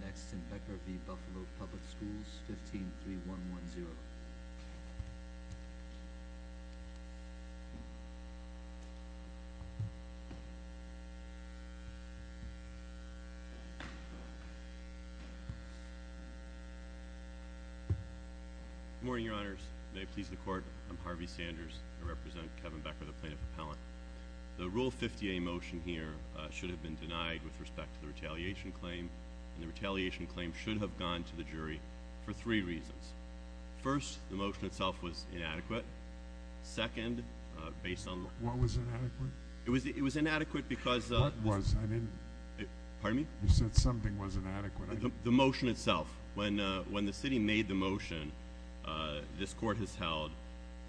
Next, in Becker v. Buffalo Public Schools, 153110. Good morning, Your Honors. May it please the Court, I'm Harvey Sanders. I represent Kevin Becker, the Plaintiff Appellant. The Rule 50A motion here should have been denied with respect to the retaliation claim, and the retaliation claim should have gone to the jury for three reasons. First, the motion itself was inadequate. Second, based on the- What was inadequate? It was inadequate because- What was? I didn't- Pardon me? You said something was inadequate. The motion itself. When the city made the motion, this Court has held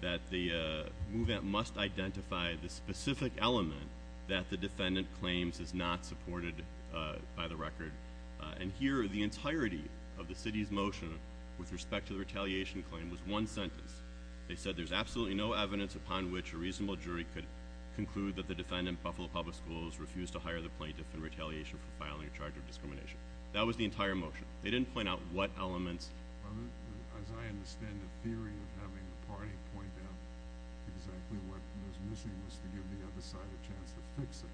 that the movement must identify the specific element that the defendant claims is not supported by the record. And here, the entirety of the city's motion with respect to the retaliation claim was one sentence. They said there's absolutely no evidence upon which a reasonable jury could conclude that the defendant, Buffalo Public Schools, refused to hire the plaintiff in retaliation for filing a charge of discrimination. That was the entire motion. They didn't point out what elements- As I understand it, the theory of having the party point out exactly what was missing was to give the other side a chance to fix it.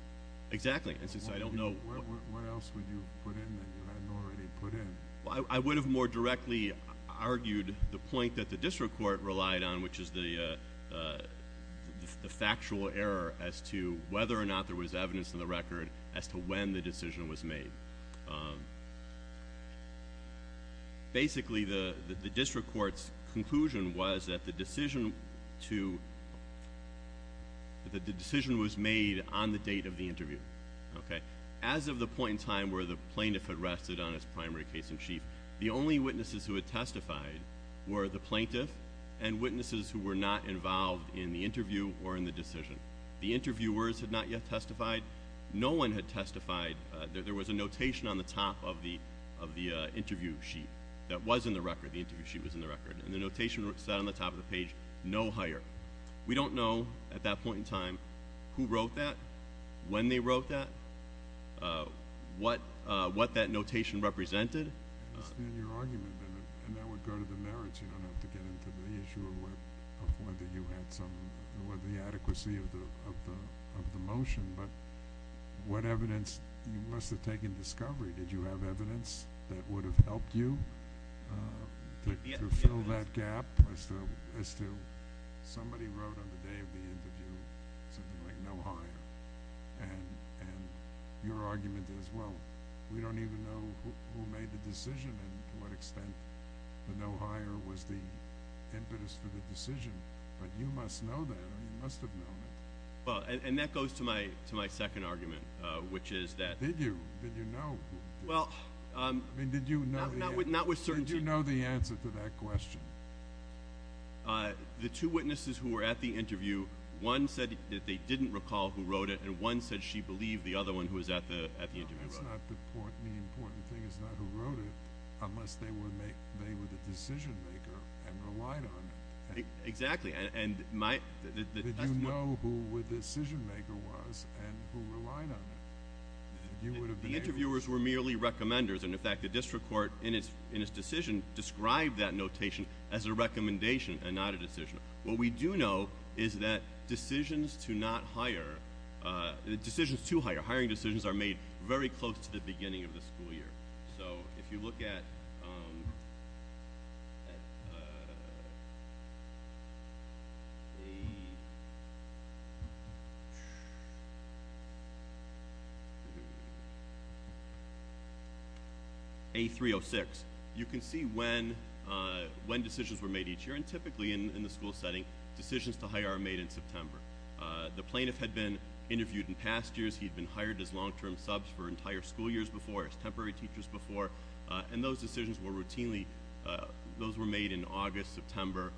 Exactly. What else would you have put in that you hadn't already put in? I would have more directly argued the point that the District Court relied on, which is the factual error as to whether or not there was evidence in the record as to when the decision was made. Basically, the District Court's conclusion was that the decision was made on the date of the interview. As of the point in time where the plaintiff had rested on his primary case in chief, the only witnesses who had testified were the plaintiff and witnesses who were not involved in the interview or in the decision. The interviewers had not yet testified. No one had testified. There was a notation on the top of the interview sheet that was in the record. The interview sheet was in the record. The notation sat on the top of the page, no hire. We don't know, at that point in time, who wrote that, when they wrote that, what that notation represented. I understand your argument, and that would go to the merits. You don't have to get into the issue of whether you had some – the adequacy of the motion. But what evidence – you must have taken discovery. Did you have evidence that would have helped you to fill that gap as to somebody wrote on the day of the interview something like no hire? And your argument is, well, we don't even know who made the decision and to what extent the no hire was the impetus for the decision. But you must know that. You must have known it. Well, and that goes to my second argument, which is that – Did you? Did you know? Well – I mean, did you know – Not with certainty. Did you know the answer to that question? The two witnesses who were at the interview, one said that they didn't recall who wrote it, and one said she believed the other one who was at the interview wrote it. No, that's not the important thing. It's not who wrote it, unless they were the decision maker and relied on it. Exactly, and my – Did you know who the decision maker was and who relied on it? The interviewers were merely recommenders. And, in fact, the district court, in its decision, described that notation as a recommendation and not a decision. What we do know is that decisions to not hire – decisions to hire, hiring decisions, are made very close to the beginning of the school year. So, if you look at A306, you can see when decisions were made each year, and typically in the school setting, decisions to hire are made in September. The plaintiff had been interviewed in past years. He had been hired as long-term subs for entire school years before, as temporary teachers before, and those decisions were routinely – those were made in August, September.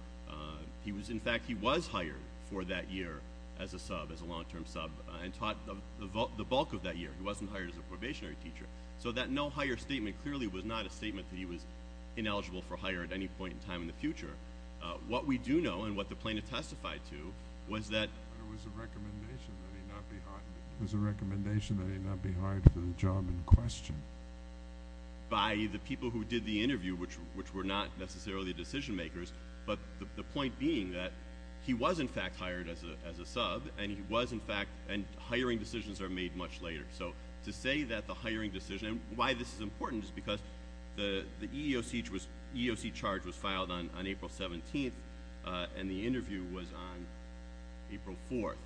In fact, he was hired for that year as a sub, as a long-term sub, and taught the bulk of that year. He wasn't hired as a probationary teacher. So that no-hire statement clearly was not a statement that he was ineligible for hire at any point in time in the future. What we do know, and what the plaintiff testified to, was that – It was a recommendation that he not be hired for the job in question. By the people who did the interview, which were not necessarily decision-makers, but the point being that he was, in fact, hired as a sub, and he was, in fact – and hiring decisions are made much later. So, to say that the hiring decision – and why this is important is because the EEOC charge was filed on April 17th, and the interview was on April 4th.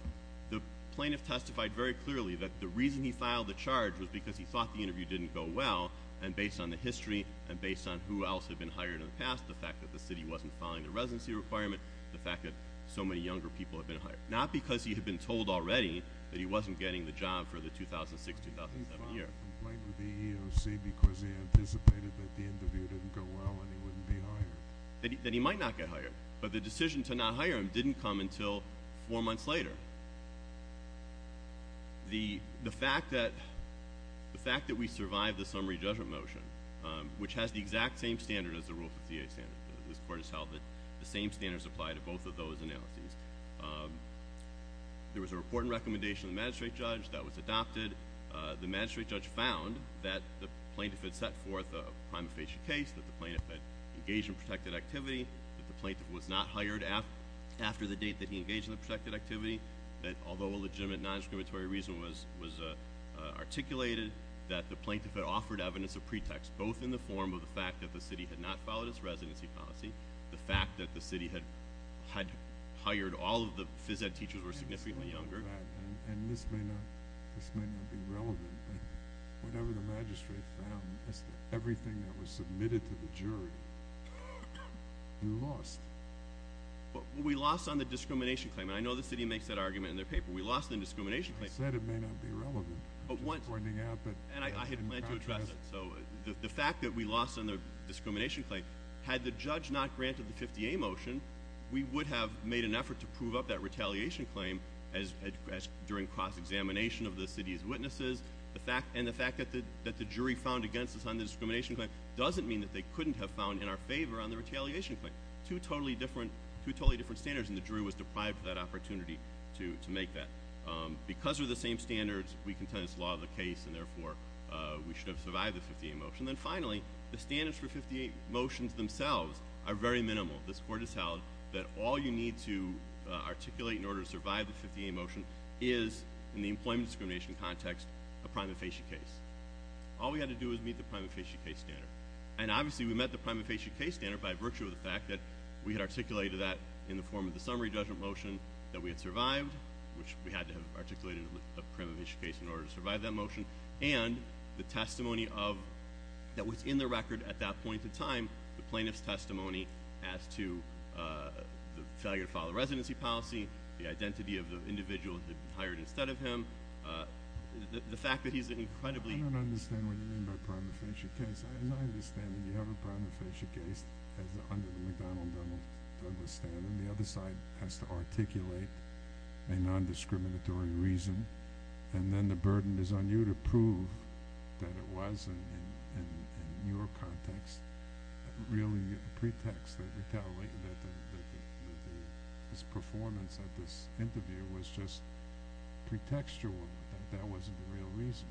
The plaintiff testified very clearly that the reason he filed the charge was because he thought the interview didn't go well, and based on the history, and based on who else had been hired in the past, the fact that the city wasn't following the residency requirement, the fact that so many younger people had been hired. Not because he had been told already that he wasn't getting the job for the 2006-2007 year. He filed a complaint with the EEOC because he anticipated that the interview didn't go well and he wouldn't be hired. That he might not get hired, but the decision to not hire him didn't come until four months later. The fact that we survived the summary judgment motion, which has the exact same standard as the Rule 58 standard. This Court has held that the same standards apply to both of those analyses. There was a report and recommendation of the magistrate judge that was adopted. The magistrate judge found that the plaintiff had set forth a prima facie case, that the plaintiff had engaged in protected activity, that the plaintiff was not hired after the date that he engaged in the protected activity, that although a legitimate non-exclamatory reason was articulated, that the plaintiff had offered evidence of pretext, both in the form of the fact that the city had not followed its residency policy, the fact that the city had hired all of the phys ed teachers who were significantly younger. And this may not be relevant, but whatever the magistrate found as to everything that was submitted to the jury, we lost. We lost on the discrimination claim. And I know the city makes that argument in their paper. We lost the discrimination claim. I said it may not be relevant. I'm just pointing out that- And I had planned to address it. So the fact that we lost on the discrimination claim. Had the judge not granted the 50A motion, we would have made an effort to prove up that retaliation claim during cross-examination of the city's witnesses. And the fact that the jury found against us on the discrimination claim doesn't mean that they couldn't have found in our favor on the retaliation claim. Two totally different standards, and the jury was deprived of that opportunity to make that. Because of the same standards, we contend it's the law of the case, and therefore we should have survived the 50A motion. And then finally, the standards for 58 motions themselves are very minimal. This court has held that all you need to articulate in order to survive the 58 motion is, in the employment discrimination context, a prima facie case. All we had to do was meet the prima facie case standard. And obviously, we met the prima facie case standard by virtue of the fact that we had articulated that in the form of the summary judgment motion that we had survived. Which we had to have articulated a prima facie case in order to survive that motion. And the testimony that was in the record at that point in time, the plaintiff's testimony as to the failure to follow residency policy, the identity of the individual that hired instead of him, the fact that he's incredibly- I don't understand what you mean by prima facie case. As I understand it, you have a prima facie case under the McDonnell Douglas standard. The other side has to articulate a non-discriminatory reason. And then the burden is on you to prove that it was, in your context, really a pretext that this performance at this interview was just pretextual. That that wasn't the real reason.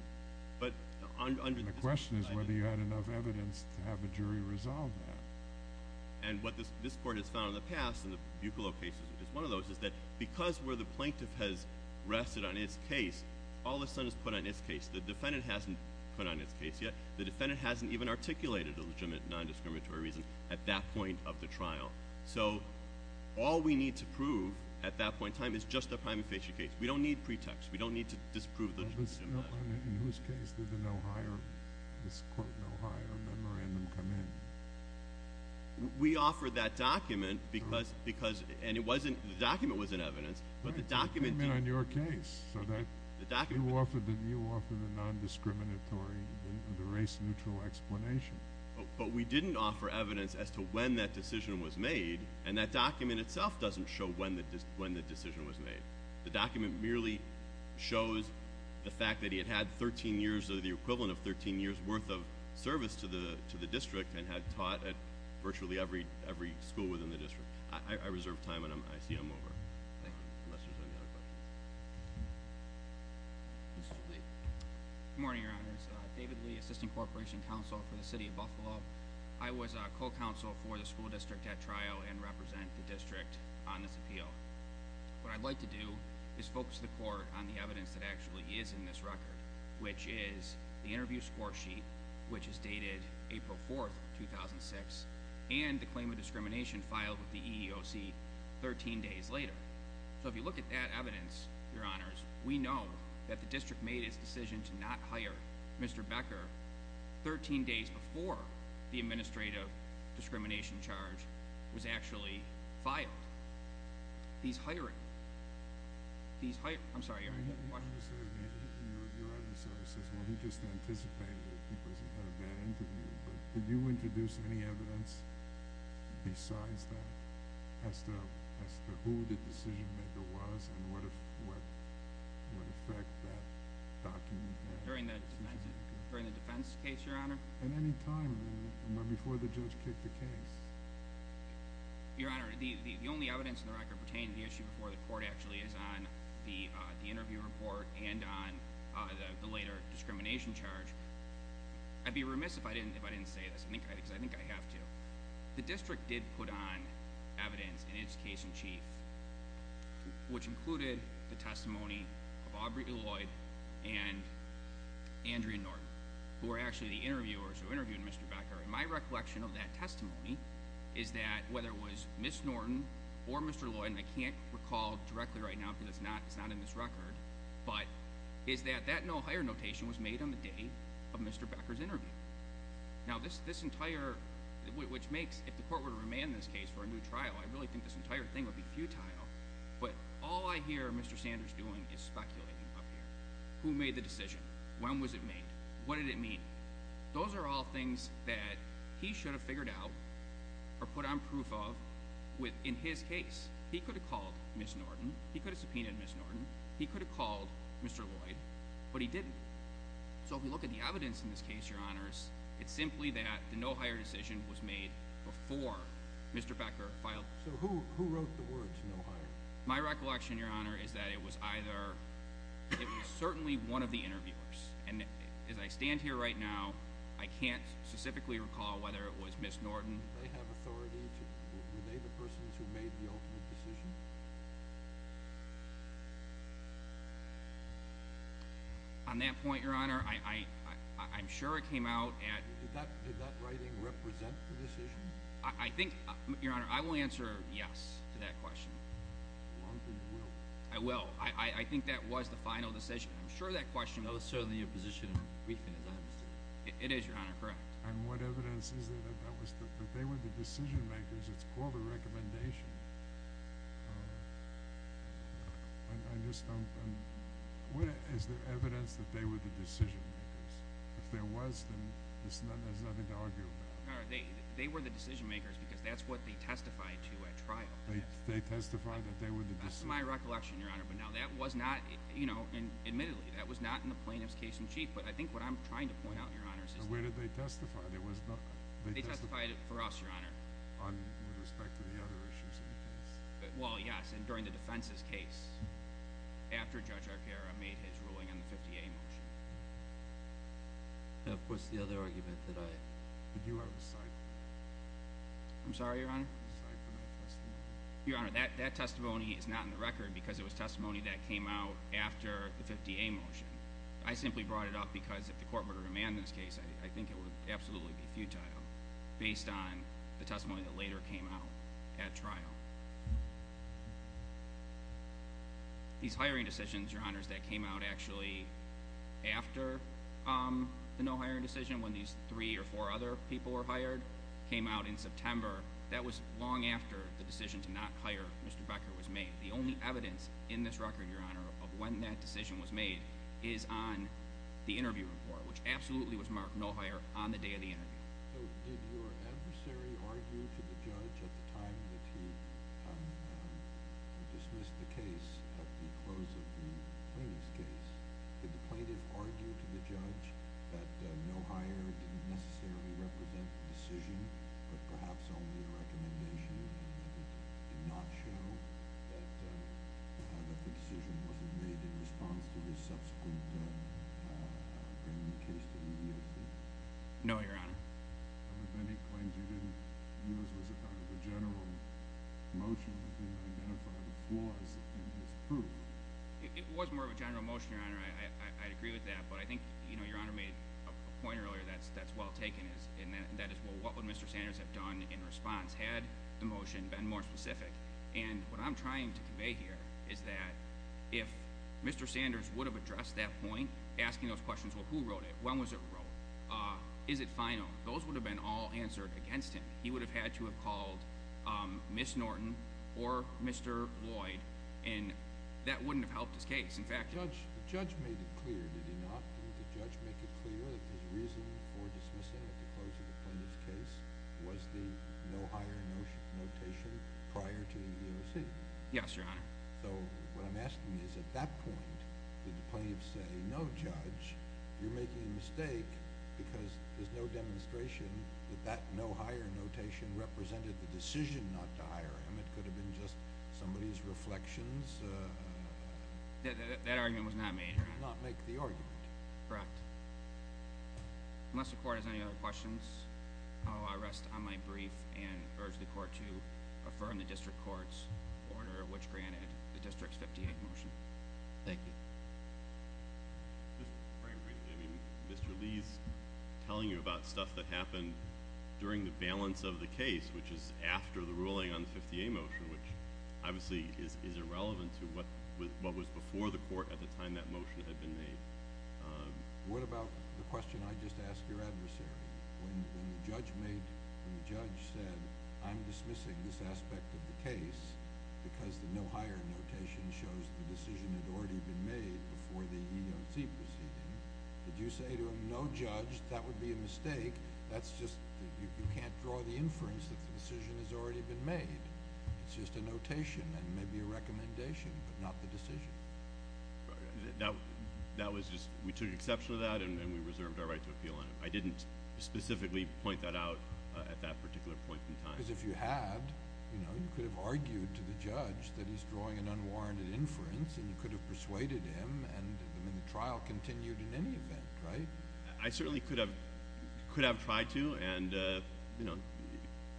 And the question is whether you had enough evidence to have a jury resolve that. And what this court has found in the past in the Buccalow cases, which is one of those, is that because where the plaintiff has rested on its case, all of a sudden it's put on its case. The defendant hasn't put on its case yet. The defendant hasn't even articulated a legitimate non-discriminatory reason at that point of the trial. So all we need to prove at that point in time is just a prima facie case. We don't need pretext. We don't need to disprove the- In whose case did the no higher, this quote no higher, memorandum come in? We offered that document because, and the document wasn't evidence, but the document- It came in on your case. You offered the non-discriminatory, the race-neutral explanation. But we didn't offer evidence as to when that decision was made, and that document itself doesn't show when the decision was made. The document merely shows the fact that he had had 13 years, or the equivalent of 13 years worth of service to the district, and had taught at virtually every school within the district. I reserve time, and I see I'm over. Thank you. Unless there's any other questions. Mr. Lee. Good morning, Your Honors. David Lee, Assistant Corporation Counsel for the City of Buccalow. I was a co-counsel for the school district at trial and represent the district on this appeal. What I'd like to do is focus the court on the evidence that actually is in this record, which is the interview score sheet, which is dated April 4th, 2006, and the claim of discrimination filed with the EEOC 13 days later. So if you look at that evidence, Your Honors, we know that the district made its decision to not hire Mr. Becker 13 days before the administrative discrimination charge was actually filed. He's hiring. He's hiring. I'm sorry, Your Honor. Your Honor, he says, well, he just anticipated it because he had a bad interview. But did you introduce any evidence besides that as to who the decision-maker was and what effect that document had? During the defense case, Your Honor? At any time before the judge kicked the case. Your Honor, the only evidence in the record pertaining to the issue before the court actually is on the interview report and on the later discrimination charge. I'd be remiss if I didn't say this because I think I have to. The district did put on evidence in its case in chief, which included the testimony of Aubrey Lloyd and Andrea Norton, who were actually the interviewers who interviewed Mr. Becker. And my recollection of that testimony is that whether it was Ms. Norton or Mr. Lloyd, and I can't recall directly right now because it's not in this record, but is that that no hire notation was made on the day of Mr. Becker's interview. Now, this entire, which makes, if the court were to remand this case for a new trial, I really think this entire thing would be futile. But all I hear Mr. Sanders doing is speculating up here. Who made the decision? When was it made? What did it mean? Those are all things that he should have figured out or put on proof of in his case. He could have called Ms. Norton. He could have subpoenaed Ms. Norton. He could have called Mr. Lloyd, but he didn't. So if you look at the evidence in this case, Your Honors, it's simply that the no hire decision was made before Mr. Becker filed. So who wrote the words no hire? My recollection, Your Honor, is that it was either, it was certainly one of the interviewers. And as I stand here right now, I can't specifically recall whether it was Ms. Norton. Did they have authority to, were they the persons who made the ultimate decision? On that point, Your Honor, I'm sure it came out at. Did that writing represent the decision? I think, Your Honor, I will answer yes to that question. I think you will. I will. I think that was the final decision. I'm sure that question goes to the position of briefing, as I understand it. It is, Your Honor, correct. And what evidence is there that they were the decision makers? It's called a recommendation. Is there evidence that they were the decision makers? If there was, then there's nothing to argue about. They were the decision makers because that's what they testified to at trial. They testified that they were the decision makers. That's my recollection, Your Honor. Admittedly, that was not in the plaintiff's case in chief. But I think what I'm trying to point out, Your Honor, is that. Where did they testify? They testified for us, Your Honor. With respect to the other issues in the case. Well, yes. And during the defense's case, after Judge Arcaro made his ruling on the 50A motion. Of course, the other argument that I. But you are the side. I'm sorry, Your Honor? The side for that testimony. Your Honor, that testimony is not in the record. Because it was testimony that came out after the 50A motion. I simply brought it up because if the court were to demand this case. I think it would absolutely be futile. Based on the testimony that later came out at trial. These hiring decisions, Your Honor, that came out actually after the no hiring decision. When these three or four other people were hired. Came out in September. That was long after the decision to not hire Mr. Becker was made. The only evidence in this record, Your Honor. Of when that decision was made. Is on the interview report. Which absolutely was marked no hire on the day of the interview. So did your adversary argue to the judge at the time that he dismissed the case. At the close of the plaintiff's case. Did the plaintiff argue to the judge that no hire didn't necessarily represent the decision. But perhaps only a recommendation in a nutshell. That the decision wasn't made in response to his subsequent bringing the case to the EEOC. No, Your Honor. Of any claims you didn't use as a kind of a general motion. To identify the flaws that you misproved. It was more of a general motion, Your Honor. I agree with that. But I think Your Honor made a point earlier that's well taken. And that is well what would Mr. Sanders have done in response. Had the motion been more specific. And what I'm trying to convey here. Is that if Mr. Sanders would have addressed that point. Asking those questions. Well who wrote it? When was it wrote? Is it final? Those would have been all answered against him. He would have had to have called Ms. Norton or Mr. Lloyd. And that wouldn't have helped his case. In fact. The judge made it clear. Did he not? Did the judge make it clear that his reason for dismissing at the close of the plaintiff's case. Was the no hire notation prior to the EEOC? Yes, Your Honor. So what I'm asking is at that point. Did the plaintiff say no judge. You're making a mistake. Because there's no demonstration. That no hire notation represented the decision not to hire him. That argument was not made, Your Honor. He did not make the argument. Correct. Unless the court has any other questions. I will rest on my brief. And urge the court to affirm the district court's order. Which granted the district's 58 motion. Thank you. Mr. Lee's telling you about stuff that happened during the balance of the case. Which is after the ruling on the 58 motion. Which obviously is irrelevant to what was before the court at the time that motion had been made. What about the question I just asked your adversary? When the judge said I'm dismissing this aspect of the case. Because the no hire notation shows the decision had already been made before the EEOC proceeding. Did you say to him no judge. That would be a mistake. That's just. You can't draw the inference that the decision has already been made. It's just a notation. And maybe a recommendation. But not the decision. That was just. We took exception to that. And we reserved our right to appeal on it. I didn't specifically point that out at that particular point in time. Because if you had. You could have argued to the judge that he's drawing an unwarranted inference. And you could have persuaded him. And the trial continued in any event. Right? I certainly could have tried to.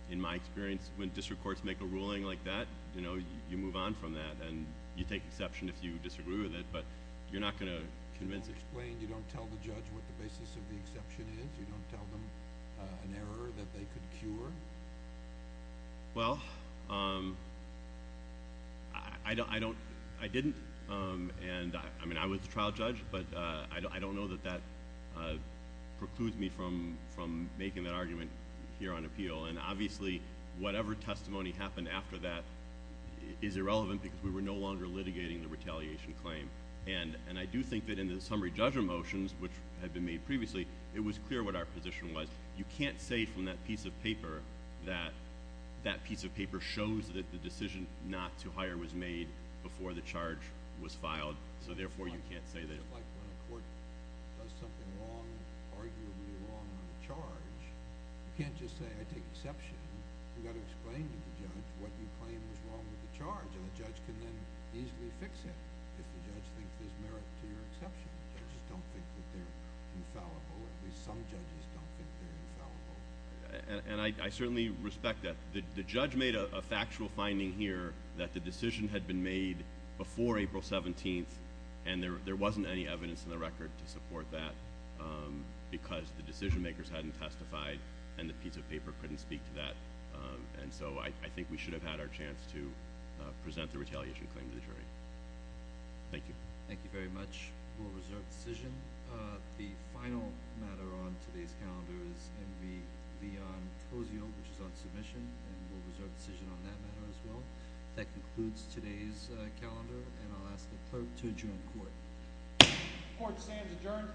In my experience when district courts make a ruling like that. You move on from that. And you take exception if you disagree with it. But you're not going to convince it. Can you explain. You don't tell the judge what the basis of the exception is. You don't tell them an error that they could cure. Well. I don't. I didn't. And I was a trial judge. But I don't know that that precludes me from making that argument here on appeal. And obviously whatever testimony happened after that is irrelevant. Because we were no longer litigating the retaliation claim. And I do think that in the summary judgment motions. Which had been made previously. It was clear what our position was. You can't say from that piece of paper. That that piece of paper shows that the decision not to hire was made. Before the charge was filed. So therefore you can't say that. It's like when a court does something wrong. Arguably wrong on a charge. You can't just say I take exception. You've got to explain to the judge what you claim is wrong with the charge. And the judge can then easily fix it. If the judge thinks there's merit to your exception. Judges don't think that they're infallible. At least some judges don't think they're infallible. And I certainly respect that. The judge made a factual finding here. That the decision had been made before April 17th. And there wasn't any evidence in the record to support that. Because the decision makers hadn't testified. And the piece of paper couldn't speak to that. And so I think we should have had our chance to present the retaliation claim to the jury. Thank you. Thank you very much. We'll reserve the decision. The final matter on today's calendar is MV Leon Cozio. Which is on submission. And we'll reserve the decision on that matter as well. That concludes today's calendar. And I'll ask the clerk to adjourn court. Court stands adjourned.